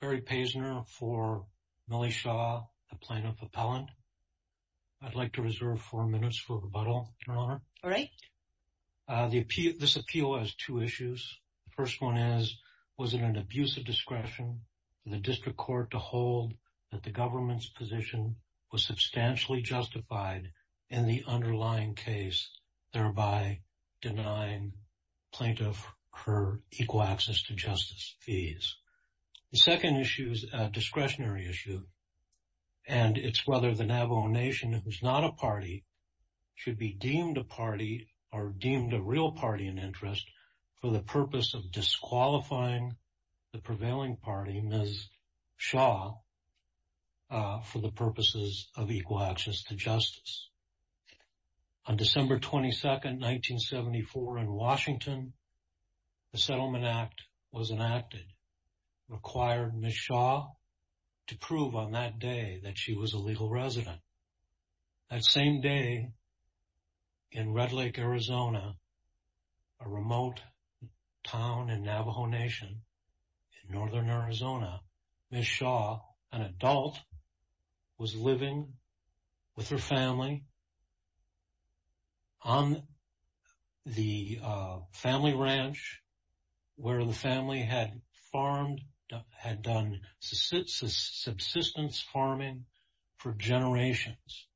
Barry Paisner for Millie Shaw, the Plaintiff Appellant. I'd like to reserve four minutes for rebuttal, Your Honor. All right. This appeal has two issues. The first one is, was it an abuse of discretion for the District Court to hold that the government's position was substantially justified in the plaintiff her equal access to justice fees. The second issue is a discretionary issue, and it's whether the Navajo Nation, who's not a party, should be deemed a party or deemed a real party in interest for the purpose of disqualifying the prevailing party, Ms. Shaw, for the purposes of equal access to justice. On December 22nd, 1974, in Washington, the Settlement Act was enacted, required Ms. Shaw to prove on that day that she was a legal resident. That same day, in Red Lake, Arizona, a remote town in Navajo Nation in northern Arizona, Ms. Shaw, an adult, was living with her family on the family ranch where the family had farmed, had done subsistence farming for generations.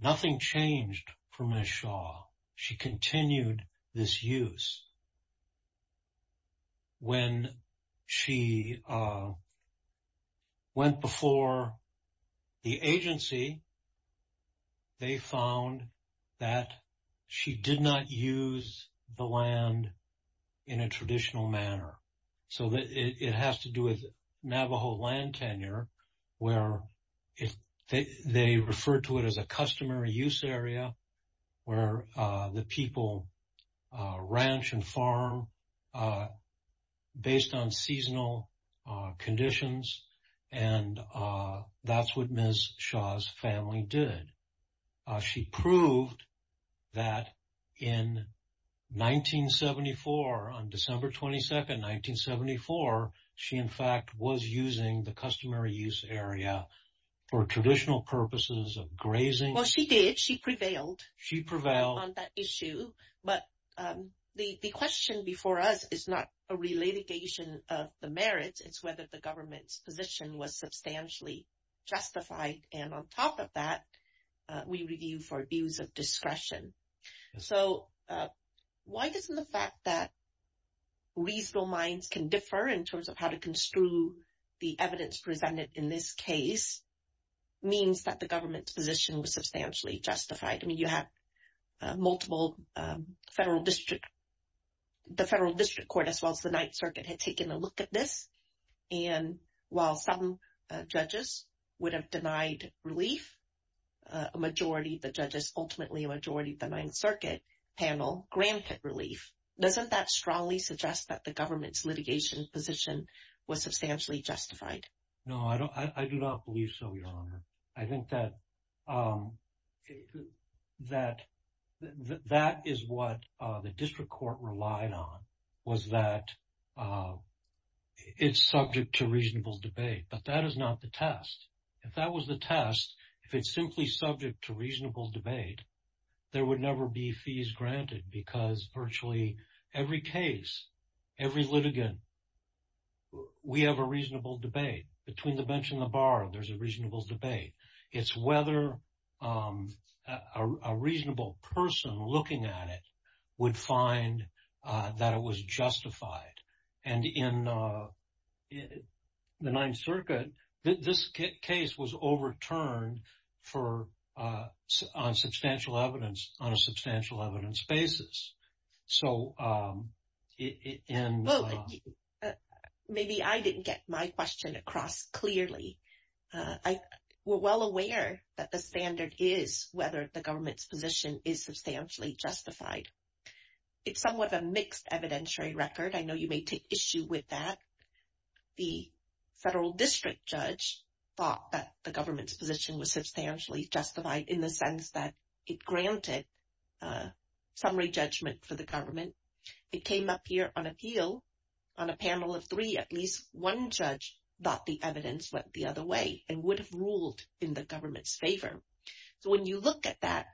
Nothing changed for Ms. Shaw. She continued this use. When she went before the agency, they found that she did not use the land in a traditional manner. So, it has to do with Navajo land tenure, where they referred to it as a customary use area where the people ranch and farm based on seasonal conditions, and that's what Ms. Shaw's family did. She proved that in 1974, on December 22nd, 1974, she in fact was using the customary use area for traditional purposes of grazing. Well, she did. She prevailed. She prevailed. On that issue. But the question before us is not a relitigation of the merits. It's whether the government's position was substantially justified. And on top of that, we review for views of discretion. So, why doesn't the fact that reasonable minds can differ in terms of how to construe the evidence presented in this case means that the government's position was substantially justified? I mean, you have multiple federal district, the federal district court as well as the Ninth Circuit had taken a look at this. And while some judges would have denied relief, a majority of the judges, ultimately a majority of the Ninth Circuit panel granted relief. Doesn't that strongly suggest that the government's litigation position was substantially justified? No, I do not believe so, Your Honor. I think that is what the district court relied on, was that it's subject to reasonable debate, but that is not the test. If that was the test, if it's simply subject to reasonable debate, there would never be fees granted because virtually every case, every litigant, we have a reasonable debate. Between the bench and the bar, there's a reasonable debate. It's whether a reasonable person looking at it would find that it was justified. And in the Ninth Circuit, this case was overturned on substantial evidence, on a substantial evidence basis. So... Maybe I didn't get my question across clearly. We're well aware that the standard is whether the government's position is substantially justified. It's somewhat of a mixed evidentiary record. I know you may take issue with that. The federal district judge thought that the government's position was substantially justified in the sense that it granted summary judgment for the government. It came up here on appeal on a panel of three. At least one judge thought the evidence went the other way and would have ruled in the government's favor. So when you look at that,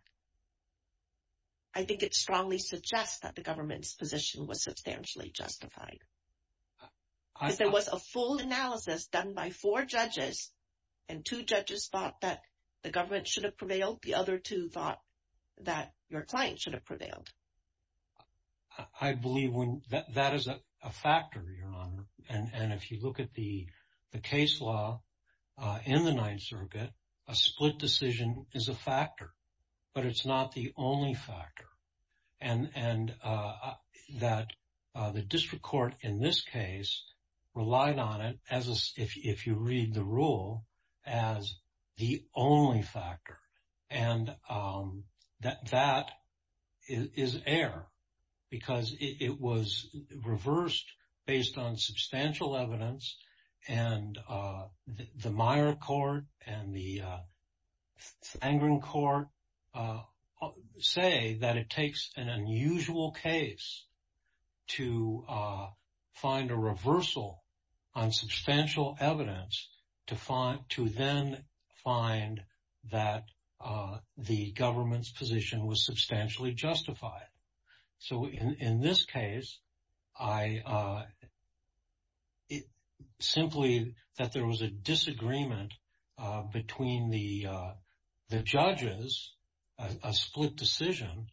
I think it strongly suggests that the government's position was substantially justified. If there was a full analysis done by four judges and two judges thought that the government should have prevailed, the other two thought that your client should have prevailed. I believe that is a factor, Your Honor. And if you look at the case law in the Ninth Circuit, a split decision is a factor, but it's not the only factor. And that the district court in this case relied on it, if you read the rule, as the only factor. And that is error because it was the angering court say that it takes an unusual case to find a reversal on substantial evidence to then find that the government's position was substantially justified. So in this case, I simply that there was a disagreement between the judges, a split decision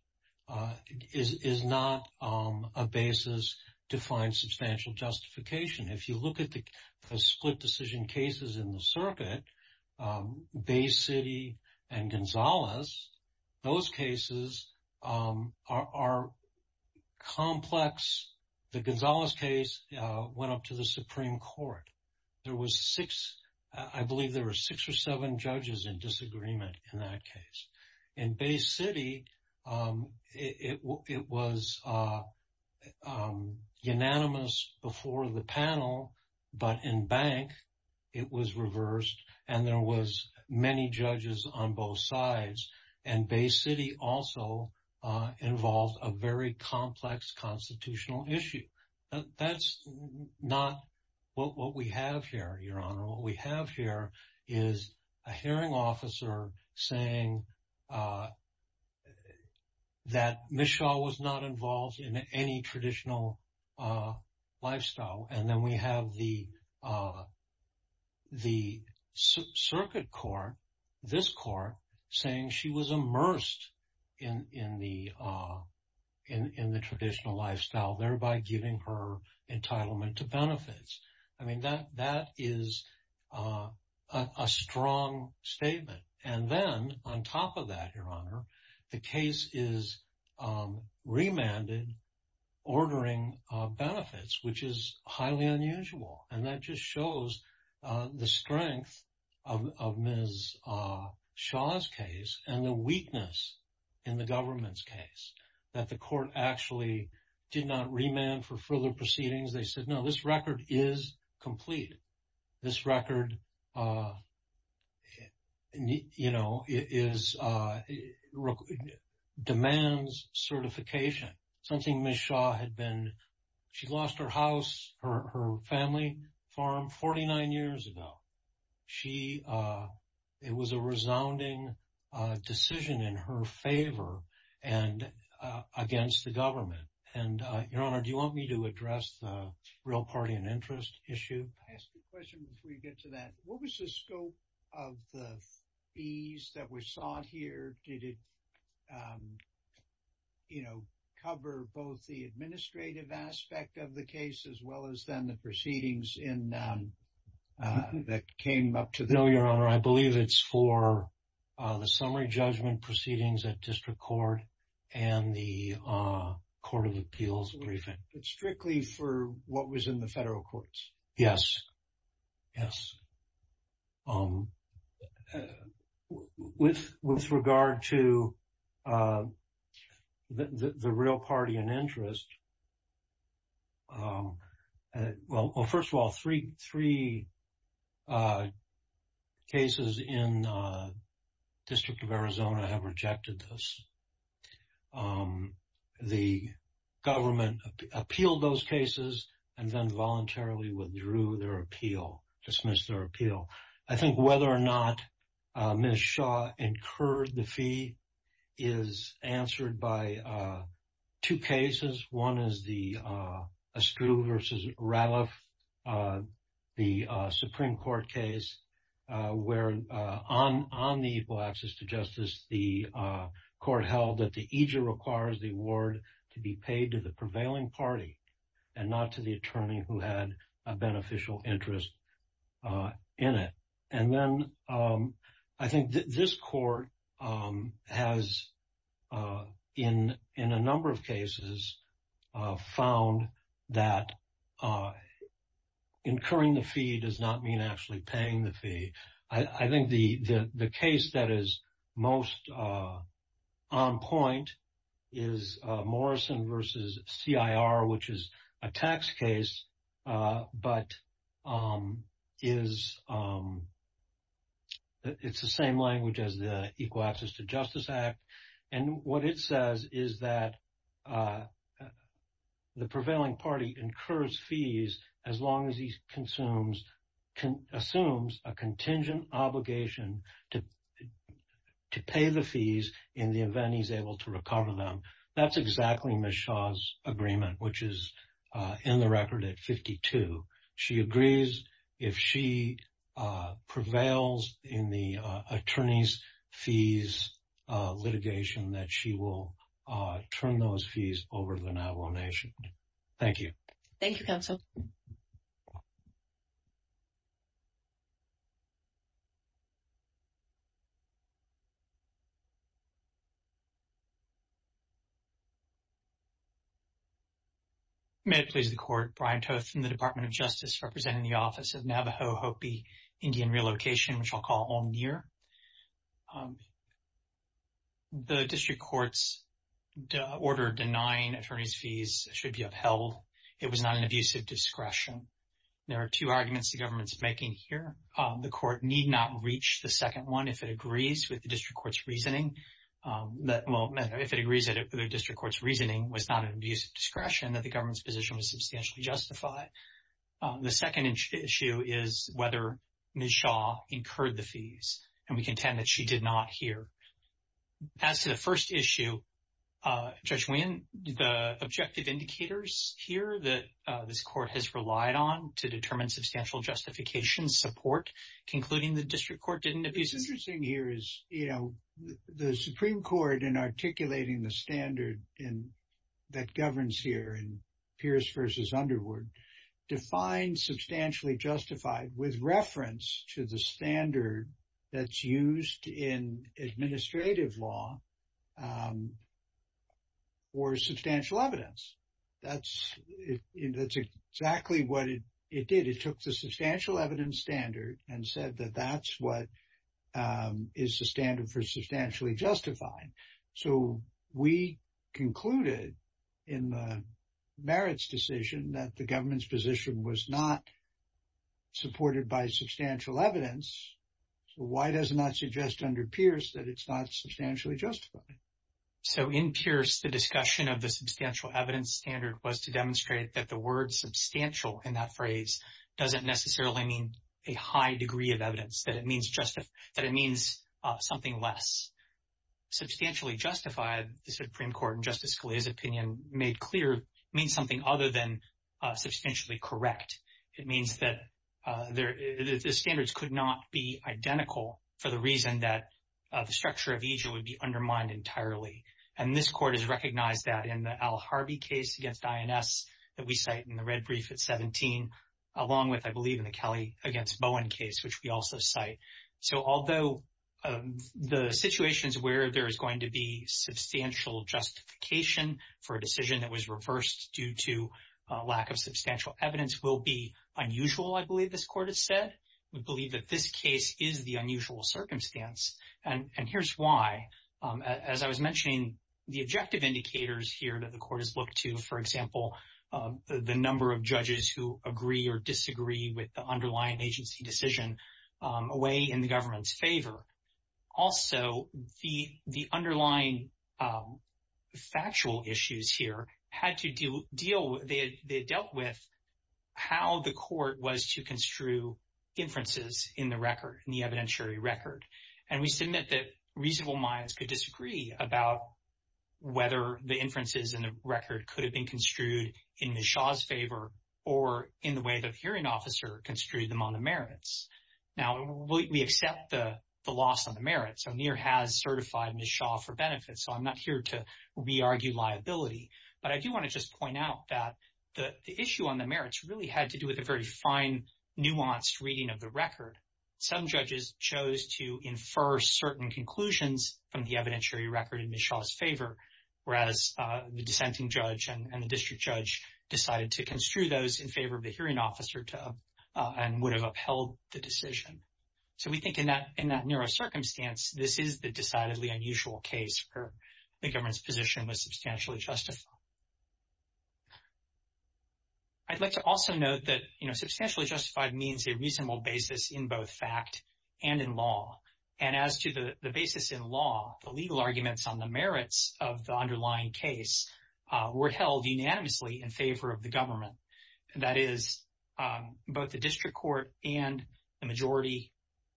is not a basis to find substantial justification. If you look at the split decision cases in the Gonzalez case went up to the Supreme Court. There was six, I believe there were six or seven judges in disagreement in that case. In Bay City, it was unanimous before the panel, but in bank, it was reversed. And there was many judges on both sides. And Bay City also involved a very small issue. That's not what we have here, Your Honor. What we have here is a hearing officer saying that Ms. Shaw was not involved in any traditional lifestyle. And then we have the giving her entitlement to benefits. I mean, that is a strong statement. And then on top of that, Your Honor, the case is remanded, ordering benefits, which is highly unusual. And that just shows the strength of Ms. Shaw's case and the weakness in the government's case that the court actually did not remand for further proceedings. They said, no, this record is complete. This record demands certification. Something Ms. Shaw had been, she lost her house, her family farm 49 years ago. It was a resounding decision in her favor and against the government. And Your Honor, do you want me to address the real party and interest issue? I ask a question before we get to that. What was the scope of the fees that were sought here? Did it cover both the administrative aspect of the case as well as then the proceedings in that came up to the... No, Your Honor. I believe it's for the summary judgment proceedings at district court and the court of appeals briefing. But strictly for what was in the federal courts? Yes. Yes. With regard to the real party and interest, well, first of all, three cases in the District of Arizona have rejected this. The government appealed those cases and then voluntarily withdrew their appeal, dismissed their appeal. I think whether or not Ms. Shaw incurred the fee is answered by two cases. One is the Askew versus Ralph, the Supreme Court case where on the equal access to justice, the court held that the EJER requires the award to be paid to the prevailing party and not to the attorney who had a beneficial interest in it. And then I think this court has in a number of cases found that incurring the fee does not mean actually paying the fee. I think the case that is most on point is Morrison versus CIR, which is a tax case, but it's the same language as the Equal Access to Justice Act. And what it says is that the prevailing party incurs fees as long as he assumes a contingent obligation to pay the fees in the event he's able to recover them. That's exactly Ms. Shaw's agreement, which is in the record at 52. She agrees if she prevails in the attorney's fees litigation that she will turn those fees over to the Navajo Nation. Thank you. MS. SHAW Thank you, counsel. May it please the Court, Brian Toth from the Department of Justice representing the Office Navajo Hopi Indian Relocation, which I'll call OMNIR. The district court's order denying attorney's fees should be upheld. It was not an abusive discretion. There are two arguments the government is making here. The court need not reach the second one if it agrees with the district court's reasoning that, well, if it agrees that the district court's reasoning was not an abusive discretion, that the government's position was substantially justified. The second issue is whether Ms. Shaw incurred the fees, and we contend that she did not here. As to the first issue, Judge Weehan, the objective indicators here that this court has relied on to determine substantial justification support, concluding the district court didn't abuse... JUDGE WEEHAN It's interesting here is, you know, the Supreme Court in articulating the standard that governs here in Pierce v. Underwood defines substantially justified with reference to the standard that's used in administrative law or substantial evidence. That's exactly what it did. It took the substantial evidence standard and said that that's what is the standard for concluded in the merits decision that the government's position was not supported by substantial evidence. So, why does it not suggest under Pierce that it's not substantially justified? So, in Pierce, the discussion of the substantial evidence standard was to demonstrate that the word substantial in that phrase doesn't necessarily mean a high degree of evidence, that it means something less. Substantially justified, the Supreme Court in Justice Scalia's opinion made clear, means something other than substantially correct. It means that the standards could not be identical for the reason that the structure of EJ would be undermined entirely. And this court has recognized that in the Al Harvey case against INS that we cite in the red brief at 17, along with, I believe, in the Kelly against Bowen case, which we also cite. So, although the situations where there is going to be substantial justification for a decision that was reversed due to lack of substantial evidence will be unusual, I believe this court has said. We believe that this case is the unusual circumstance. And here's why. As I was mentioning, the objective indicators here that the court has looked to, for example, the number of judges who agree or disagree with the underlying agency decision away in the government's favor. Also, the underlying factual issues here had to deal, they dealt with how the court was to construe inferences in the record, in the evidentiary record. And we submit that reasonable minds could disagree about whether the inferences in the record could have been construed in Ms. Shaw's favor in the way that a hearing officer construed them on the merits. Now, we accept the loss on the merits. O'Neill has certified Ms. Shaw for benefits. So, I'm not here to re-argue liability. But I do want to just point out that the issue on the merits really had to do with a very fine, nuanced reading of the record. Some judges chose to infer certain conclusions from the evidentiary record in Ms. Shaw's favor, whereas the dissenting judge and the district judge decided to construe those in favor of the hearing officer and would have upheld the decision. So, we think in that, in that neurocircumstance, this is the decidedly unusual case where the government's position was substantially justified. I'd like to also note that, you know, substantially justified means a reasonable basis in both fact and in law. And as to the basis in law, the legal arguments on the merits of the underlying case were held unanimously in favor of the government. That is, both the district court and the majority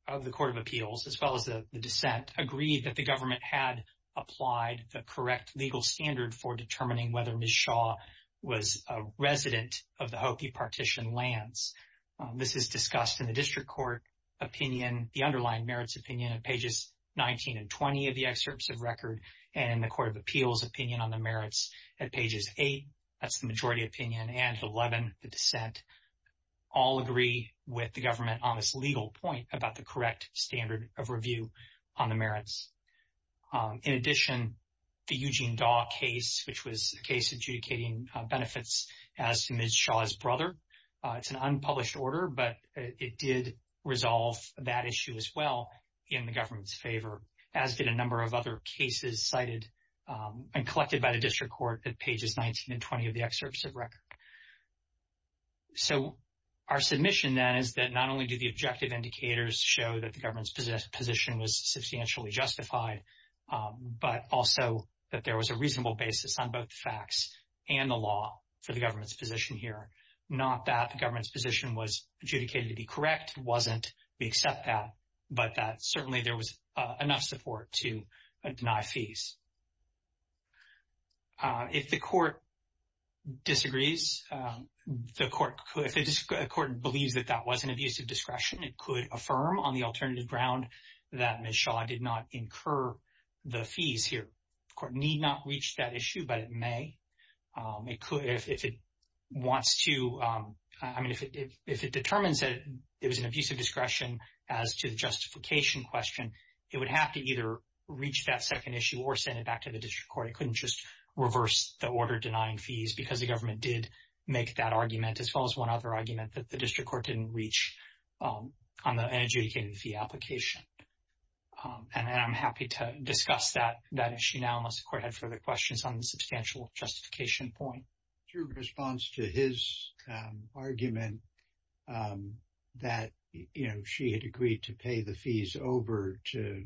of the Court of Appeals, as well as the dissent, agreed that the government had applied the correct legal standard for determining whether Ms. Shaw was a resident of the Hopi partition lands. This is discussed in the district court opinion, the underlying merits opinion, pages 19 and 20 of the excerpts of record, and the Court of Appeals opinion on the merits at pages 8, that's the majority opinion, and 11, the dissent, all agree with the government on this legal point about the correct standard of review on the merits. In addition, the Eugene Daw case, which was a case adjudicating benefits as to Ms. Shaw's brother, it's an unpublished order, but it did resolve that issue as well in the government's favor, as did a number of other cases cited and collected by the district court at pages 19 and 20 of the excerpts of record. So, our submission then is that not only do the objective indicators show that the government's position was substantially justified, but also that there was a reasonable basis on both facts and the law for the government's position here. Not that the government's position was adjudicated to be correct, it wasn't, we accept that, but that certainly there was enough support to deny fees. If the court disagrees, if the court believes that that was an abuse of discretion, it could affirm on the alternative ground that Ms. Shaw did not incur the fees here. The court need not reach that issue, but it may. It could, if it wants to, I mean, if it determines that it was an abuse of discretion as to the justification question, it would have to either reach that second issue or send it back to the district court. It couldn't just reverse the order denying fees because the government did make that argument as well as one other argument that the district court didn't reach on the adjudicating fee application. And I'm happy to discuss that issue now, unless the court had further questions on the substantial justification point. True response to his argument that, you know, she had agreed to pay the fees over to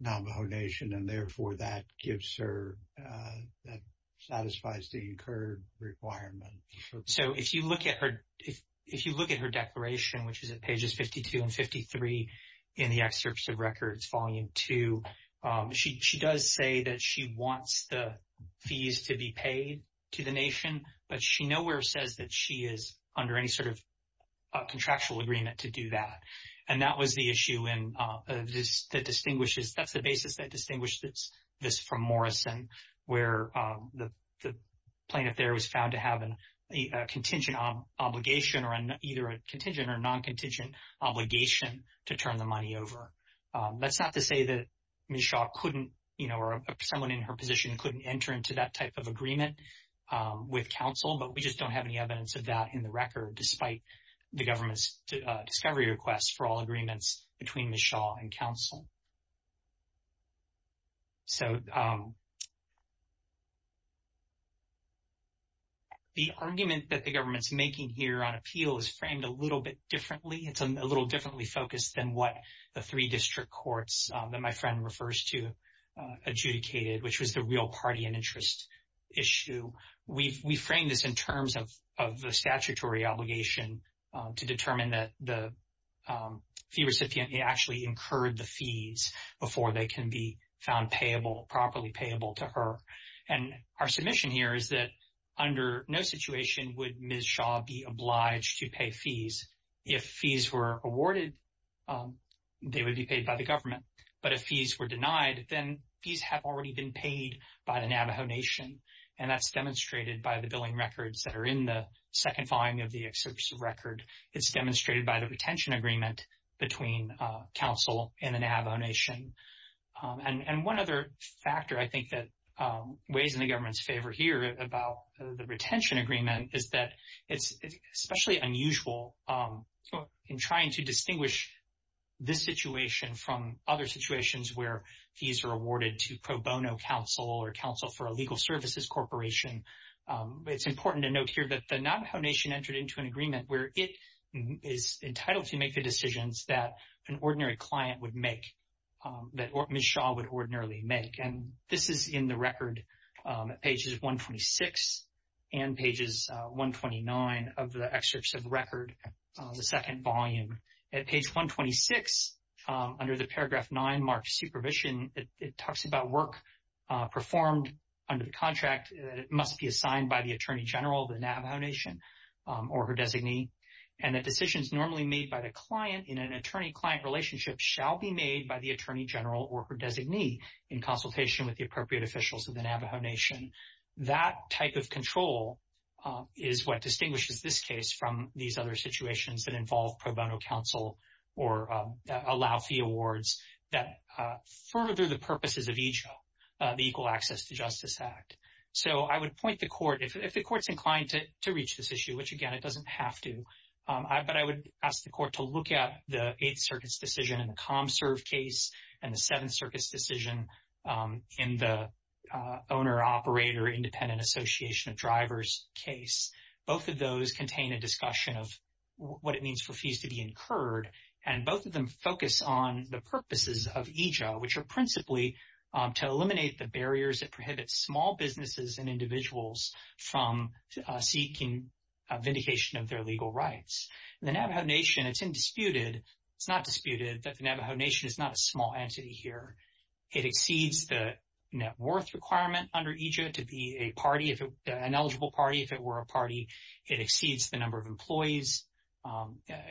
Navajo Nation and therefore that gives her, that satisfies the incurred requirement. So, if you look at her, if you look at her declaration, which is at pages 52 and 53 in the excerpts of records, volume two, she does say that she wants the fees to be paid to the nation, but she nowhere says that she is under any sort of contractual agreement to do that. And that was the issue in this that distinguishes, that's the basis that distinguished this from Morrison, where the plaintiff there was found to have a contingent obligation or either a contingent or non-contingent obligation to turn the money over. That's not to say that Ms. Shaw couldn't, you know, or someone in her position couldn't enter into that type of agreement with counsel, but we just don't have any evidence of that in the record, despite the government's discovery requests for all agreements between Ms. Shaw and counsel. So, the argument that the government's making here on appeal is framed a little bit differently. It's a little differently focused than what the three district courts that my friend refers to adjudicated, which was the real party and interest issue. We framed this in terms of the statutory obligation to determine that the fee recipient actually incurred the fees before they can be found payable, properly payable to her. And our submission here is that under no situation would Ms. Shaw be obliged to pay fees. If fees were awarded, they would be paid by the government. But if fees were denied, then fees have already been paid by the Navajo Nation. And that's demonstrated by the billing records that are in the second following of the excerpt's record. It's demonstrated by the retention agreement between counsel and the Navajo Nation. And one other factor I think that weighs in the government's favor here about the retention agreement is that it's especially unusual in trying to distinguish this situation from other situations where fees are awarded to pro bono counsel or counsel for a legal services corporation. It's important to note here that the an ordinary client would make, that Ms. Shaw would ordinarily make. And this is in the record at pages 126 and pages 129 of the excerpts of the record, the second volume. At page 126, under the paragraph nine marked supervision, it talks about work performed under the contract that must be assigned by the Attorney General of the Navajo Nation or her designee. And that normally made by the client in an attorney-client relationship shall be made by the Attorney General or her designee in consultation with the appropriate officials of the Navajo Nation. That type of control is what distinguishes this case from these other situations that involve pro bono counsel or allow fee awards that further the purposes of each of the Equal Access to Justice Act. So I would point the court, if the court's inclined to reach this issue, which again, it doesn't have to, but I would ask the court to look at the Eighth Circuit's decision in the ComServe case and the Seventh Circuit's decision in the Owner-Operator Independent Association of Drivers case. Both of those contain a discussion of what it means for fees to be incurred. And both of them focus on the purposes of EJA, which are principally to eliminate the vindication of their legal rights. The Navajo Nation, it's indisputed, it's not disputed that the Navajo Nation is not a small entity here. It exceeds the net worth requirement under EJA to be a party, an eligible party. If it were a party, it exceeds the number of employees.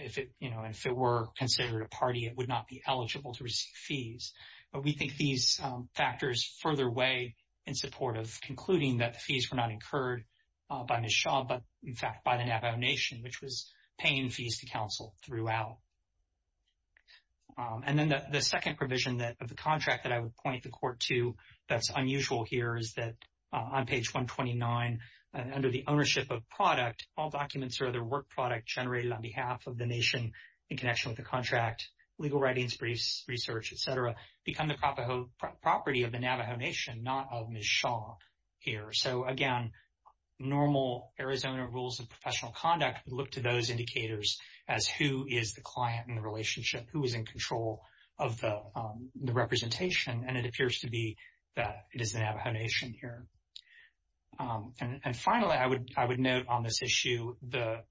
If it, you know, if it were considered a party, it would not be eligible to receive fees. But we think these factors further weigh in support of concluding that the fees were not the Navajo Nation, which was paying fees to counsel throughout. And then the second provision of the contract that I would point the court to that's unusual here is that on page 129, under the ownership of product, all documents or other work product generated on behalf of the Nation in connection with the contract, legal writings, briefs, research, et cetera, become the property of the Navajo Nation, not of Ms. Shaw here. So again, normal Arizona rules of professional conduct would look to those indicators as who is the client in the relationship, who is in control of the representation. And it appears to be that it is the Navajo Nation here. And finally, I would note on this issue, the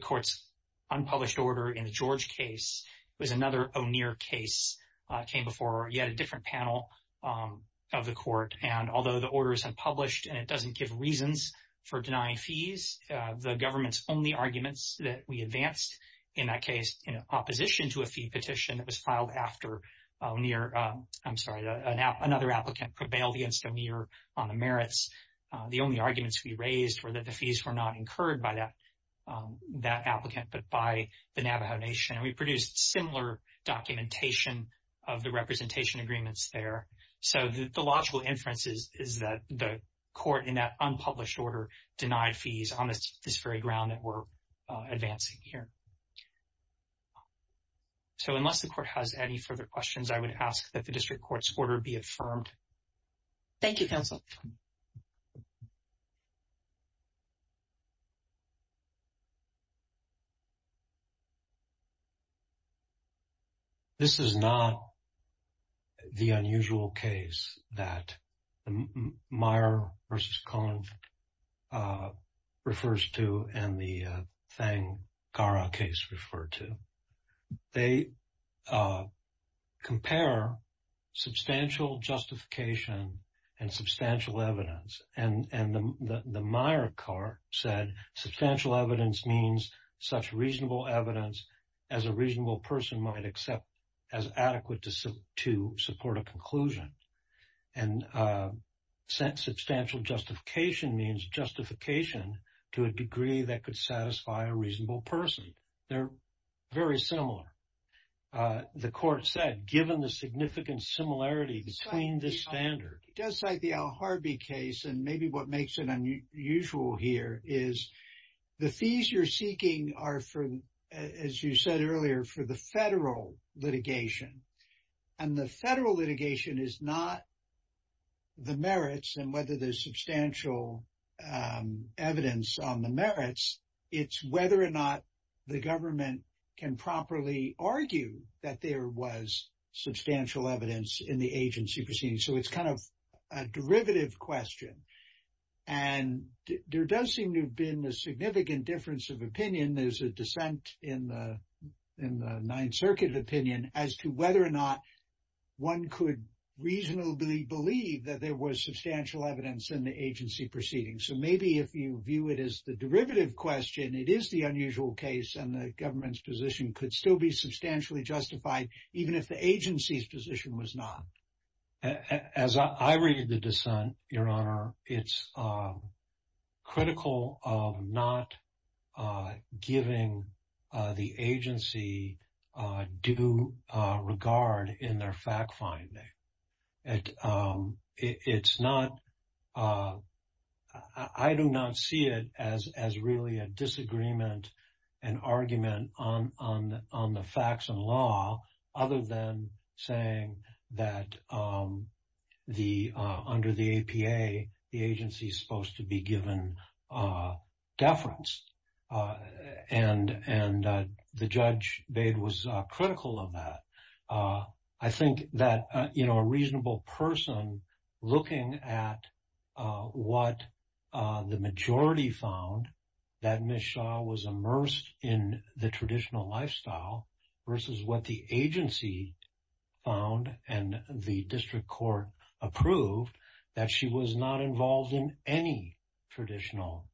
court's unpublished order in the George case was another O'Neill case, came before yet a different panel of the court. And the government's only arguments that we advanced in that case in opposition to a fee petition that was filed after near, I'm sorry, another applicant prevailed against O'Neill on the merits. The only arguments we raised were that the fees were not incurred by that applicant, but by the Navajo Nation. And we produced similar documentation of the representation agreements there. So the unpublished order denied fees on this very ground that we're advancing here. So unless the court has any further questions, I would ask that the district court's order be affirmed. Thank you, counsel. This is not the unusual case that Meyer versus Cohen Act refers to and the Fang-Gara case referred to. They compare substantial justification and substantial evidence. And the Meyer card said, substantial evidence means such reasonable evidence as a reasonable person might accept as adequate to support a conclusion. And substantial justification means justification to a degree that could satisfy a reasonable person. They're very similar. The court said, given the significant similarity between the standard. It does cite the Al Harby case. And maybe what makes it unusual here is the fees you're seeking are for, as you said earlier, for the federal litigation. And the federal litigation is not the merits and whether there's substantial evidence on the merits. It's whether or not the government can properly argue that there was substantial evidence in the agency proceedings. So it's kind of a derivative question. And there does seem to have been a significant difference of opinion. There's a dissent in the Ninth Circuit opinion as to whether or not one could reasonably believe that there was substantial evidence in the agency proceedings. So maybe if you view it as the derivative question, it is the unusual case and the government's position could still be substantially justified even if the agency's position was not. As I read the dissent, Your Honor, it's critical of not giving the agency due regard in their fact-finding. I do not see it as really a disagreement, an argument on the facts and law, other than saying that under the APA, the agency's supposed to be given deference. And the Judge Bade was critical of that. I think that a reasonable person looking at what the majority found, that Ms. Shah was immersed in the traditional lifestyle versus what the agency found and the district court approved, that she was not involved in any traditional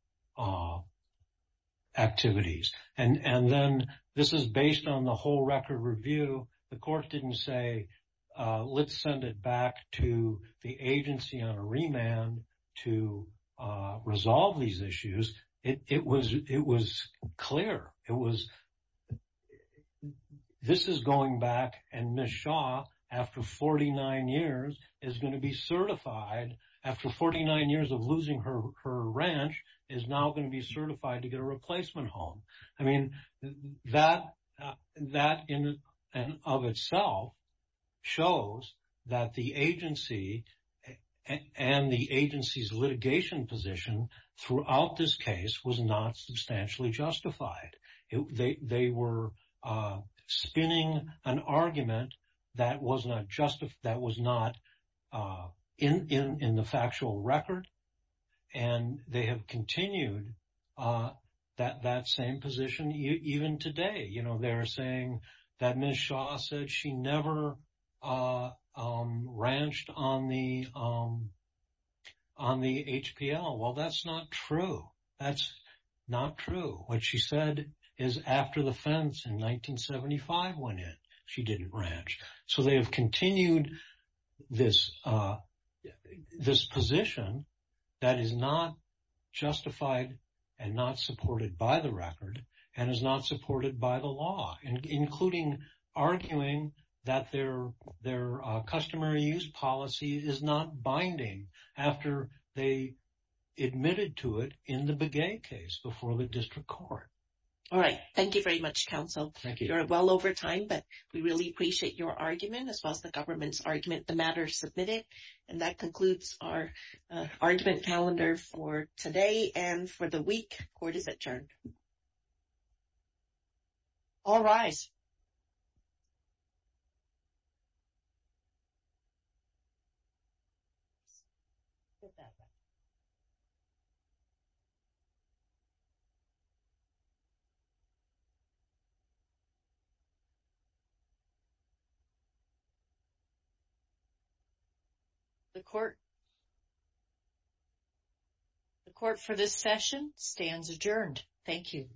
activities. And then this is based on the whole record review. The court didn't say, let's send it back to the agency on a remand to resolve these issues. It was clear. It was, this is going back and Ms. Shah, after 49 years, is going to be certified after 49 years of losing her ranch, is now going to be certified to get a replacement home. I mean, that in and of itself shows that the agency and the agency's litigation position throughout this case was not substantially justified. They were spinning an argument that was not justified, that was not in the factual record. And they have continued that same position even today. You know, they're saying that Ms. Shah said she never ranched on the HPL. Well, that's not true. That's not true. What she said is after the fence in 1975 went in, she didn't ranch. So, they have continued this position that is not justified and not supported by the record and is not supported by the law, including arguing that their customary use policy is not binding after they admitted to it in the Begay case before the district court. All right. Thank you very much, counsel. You're well over time, but we really appreciate your argument as well as the government's argument. The matter is submitted. And that concludes our argument calendar for today and for the week. Court is adjourned. All rise. The court for this session stands adjourned. Thank you.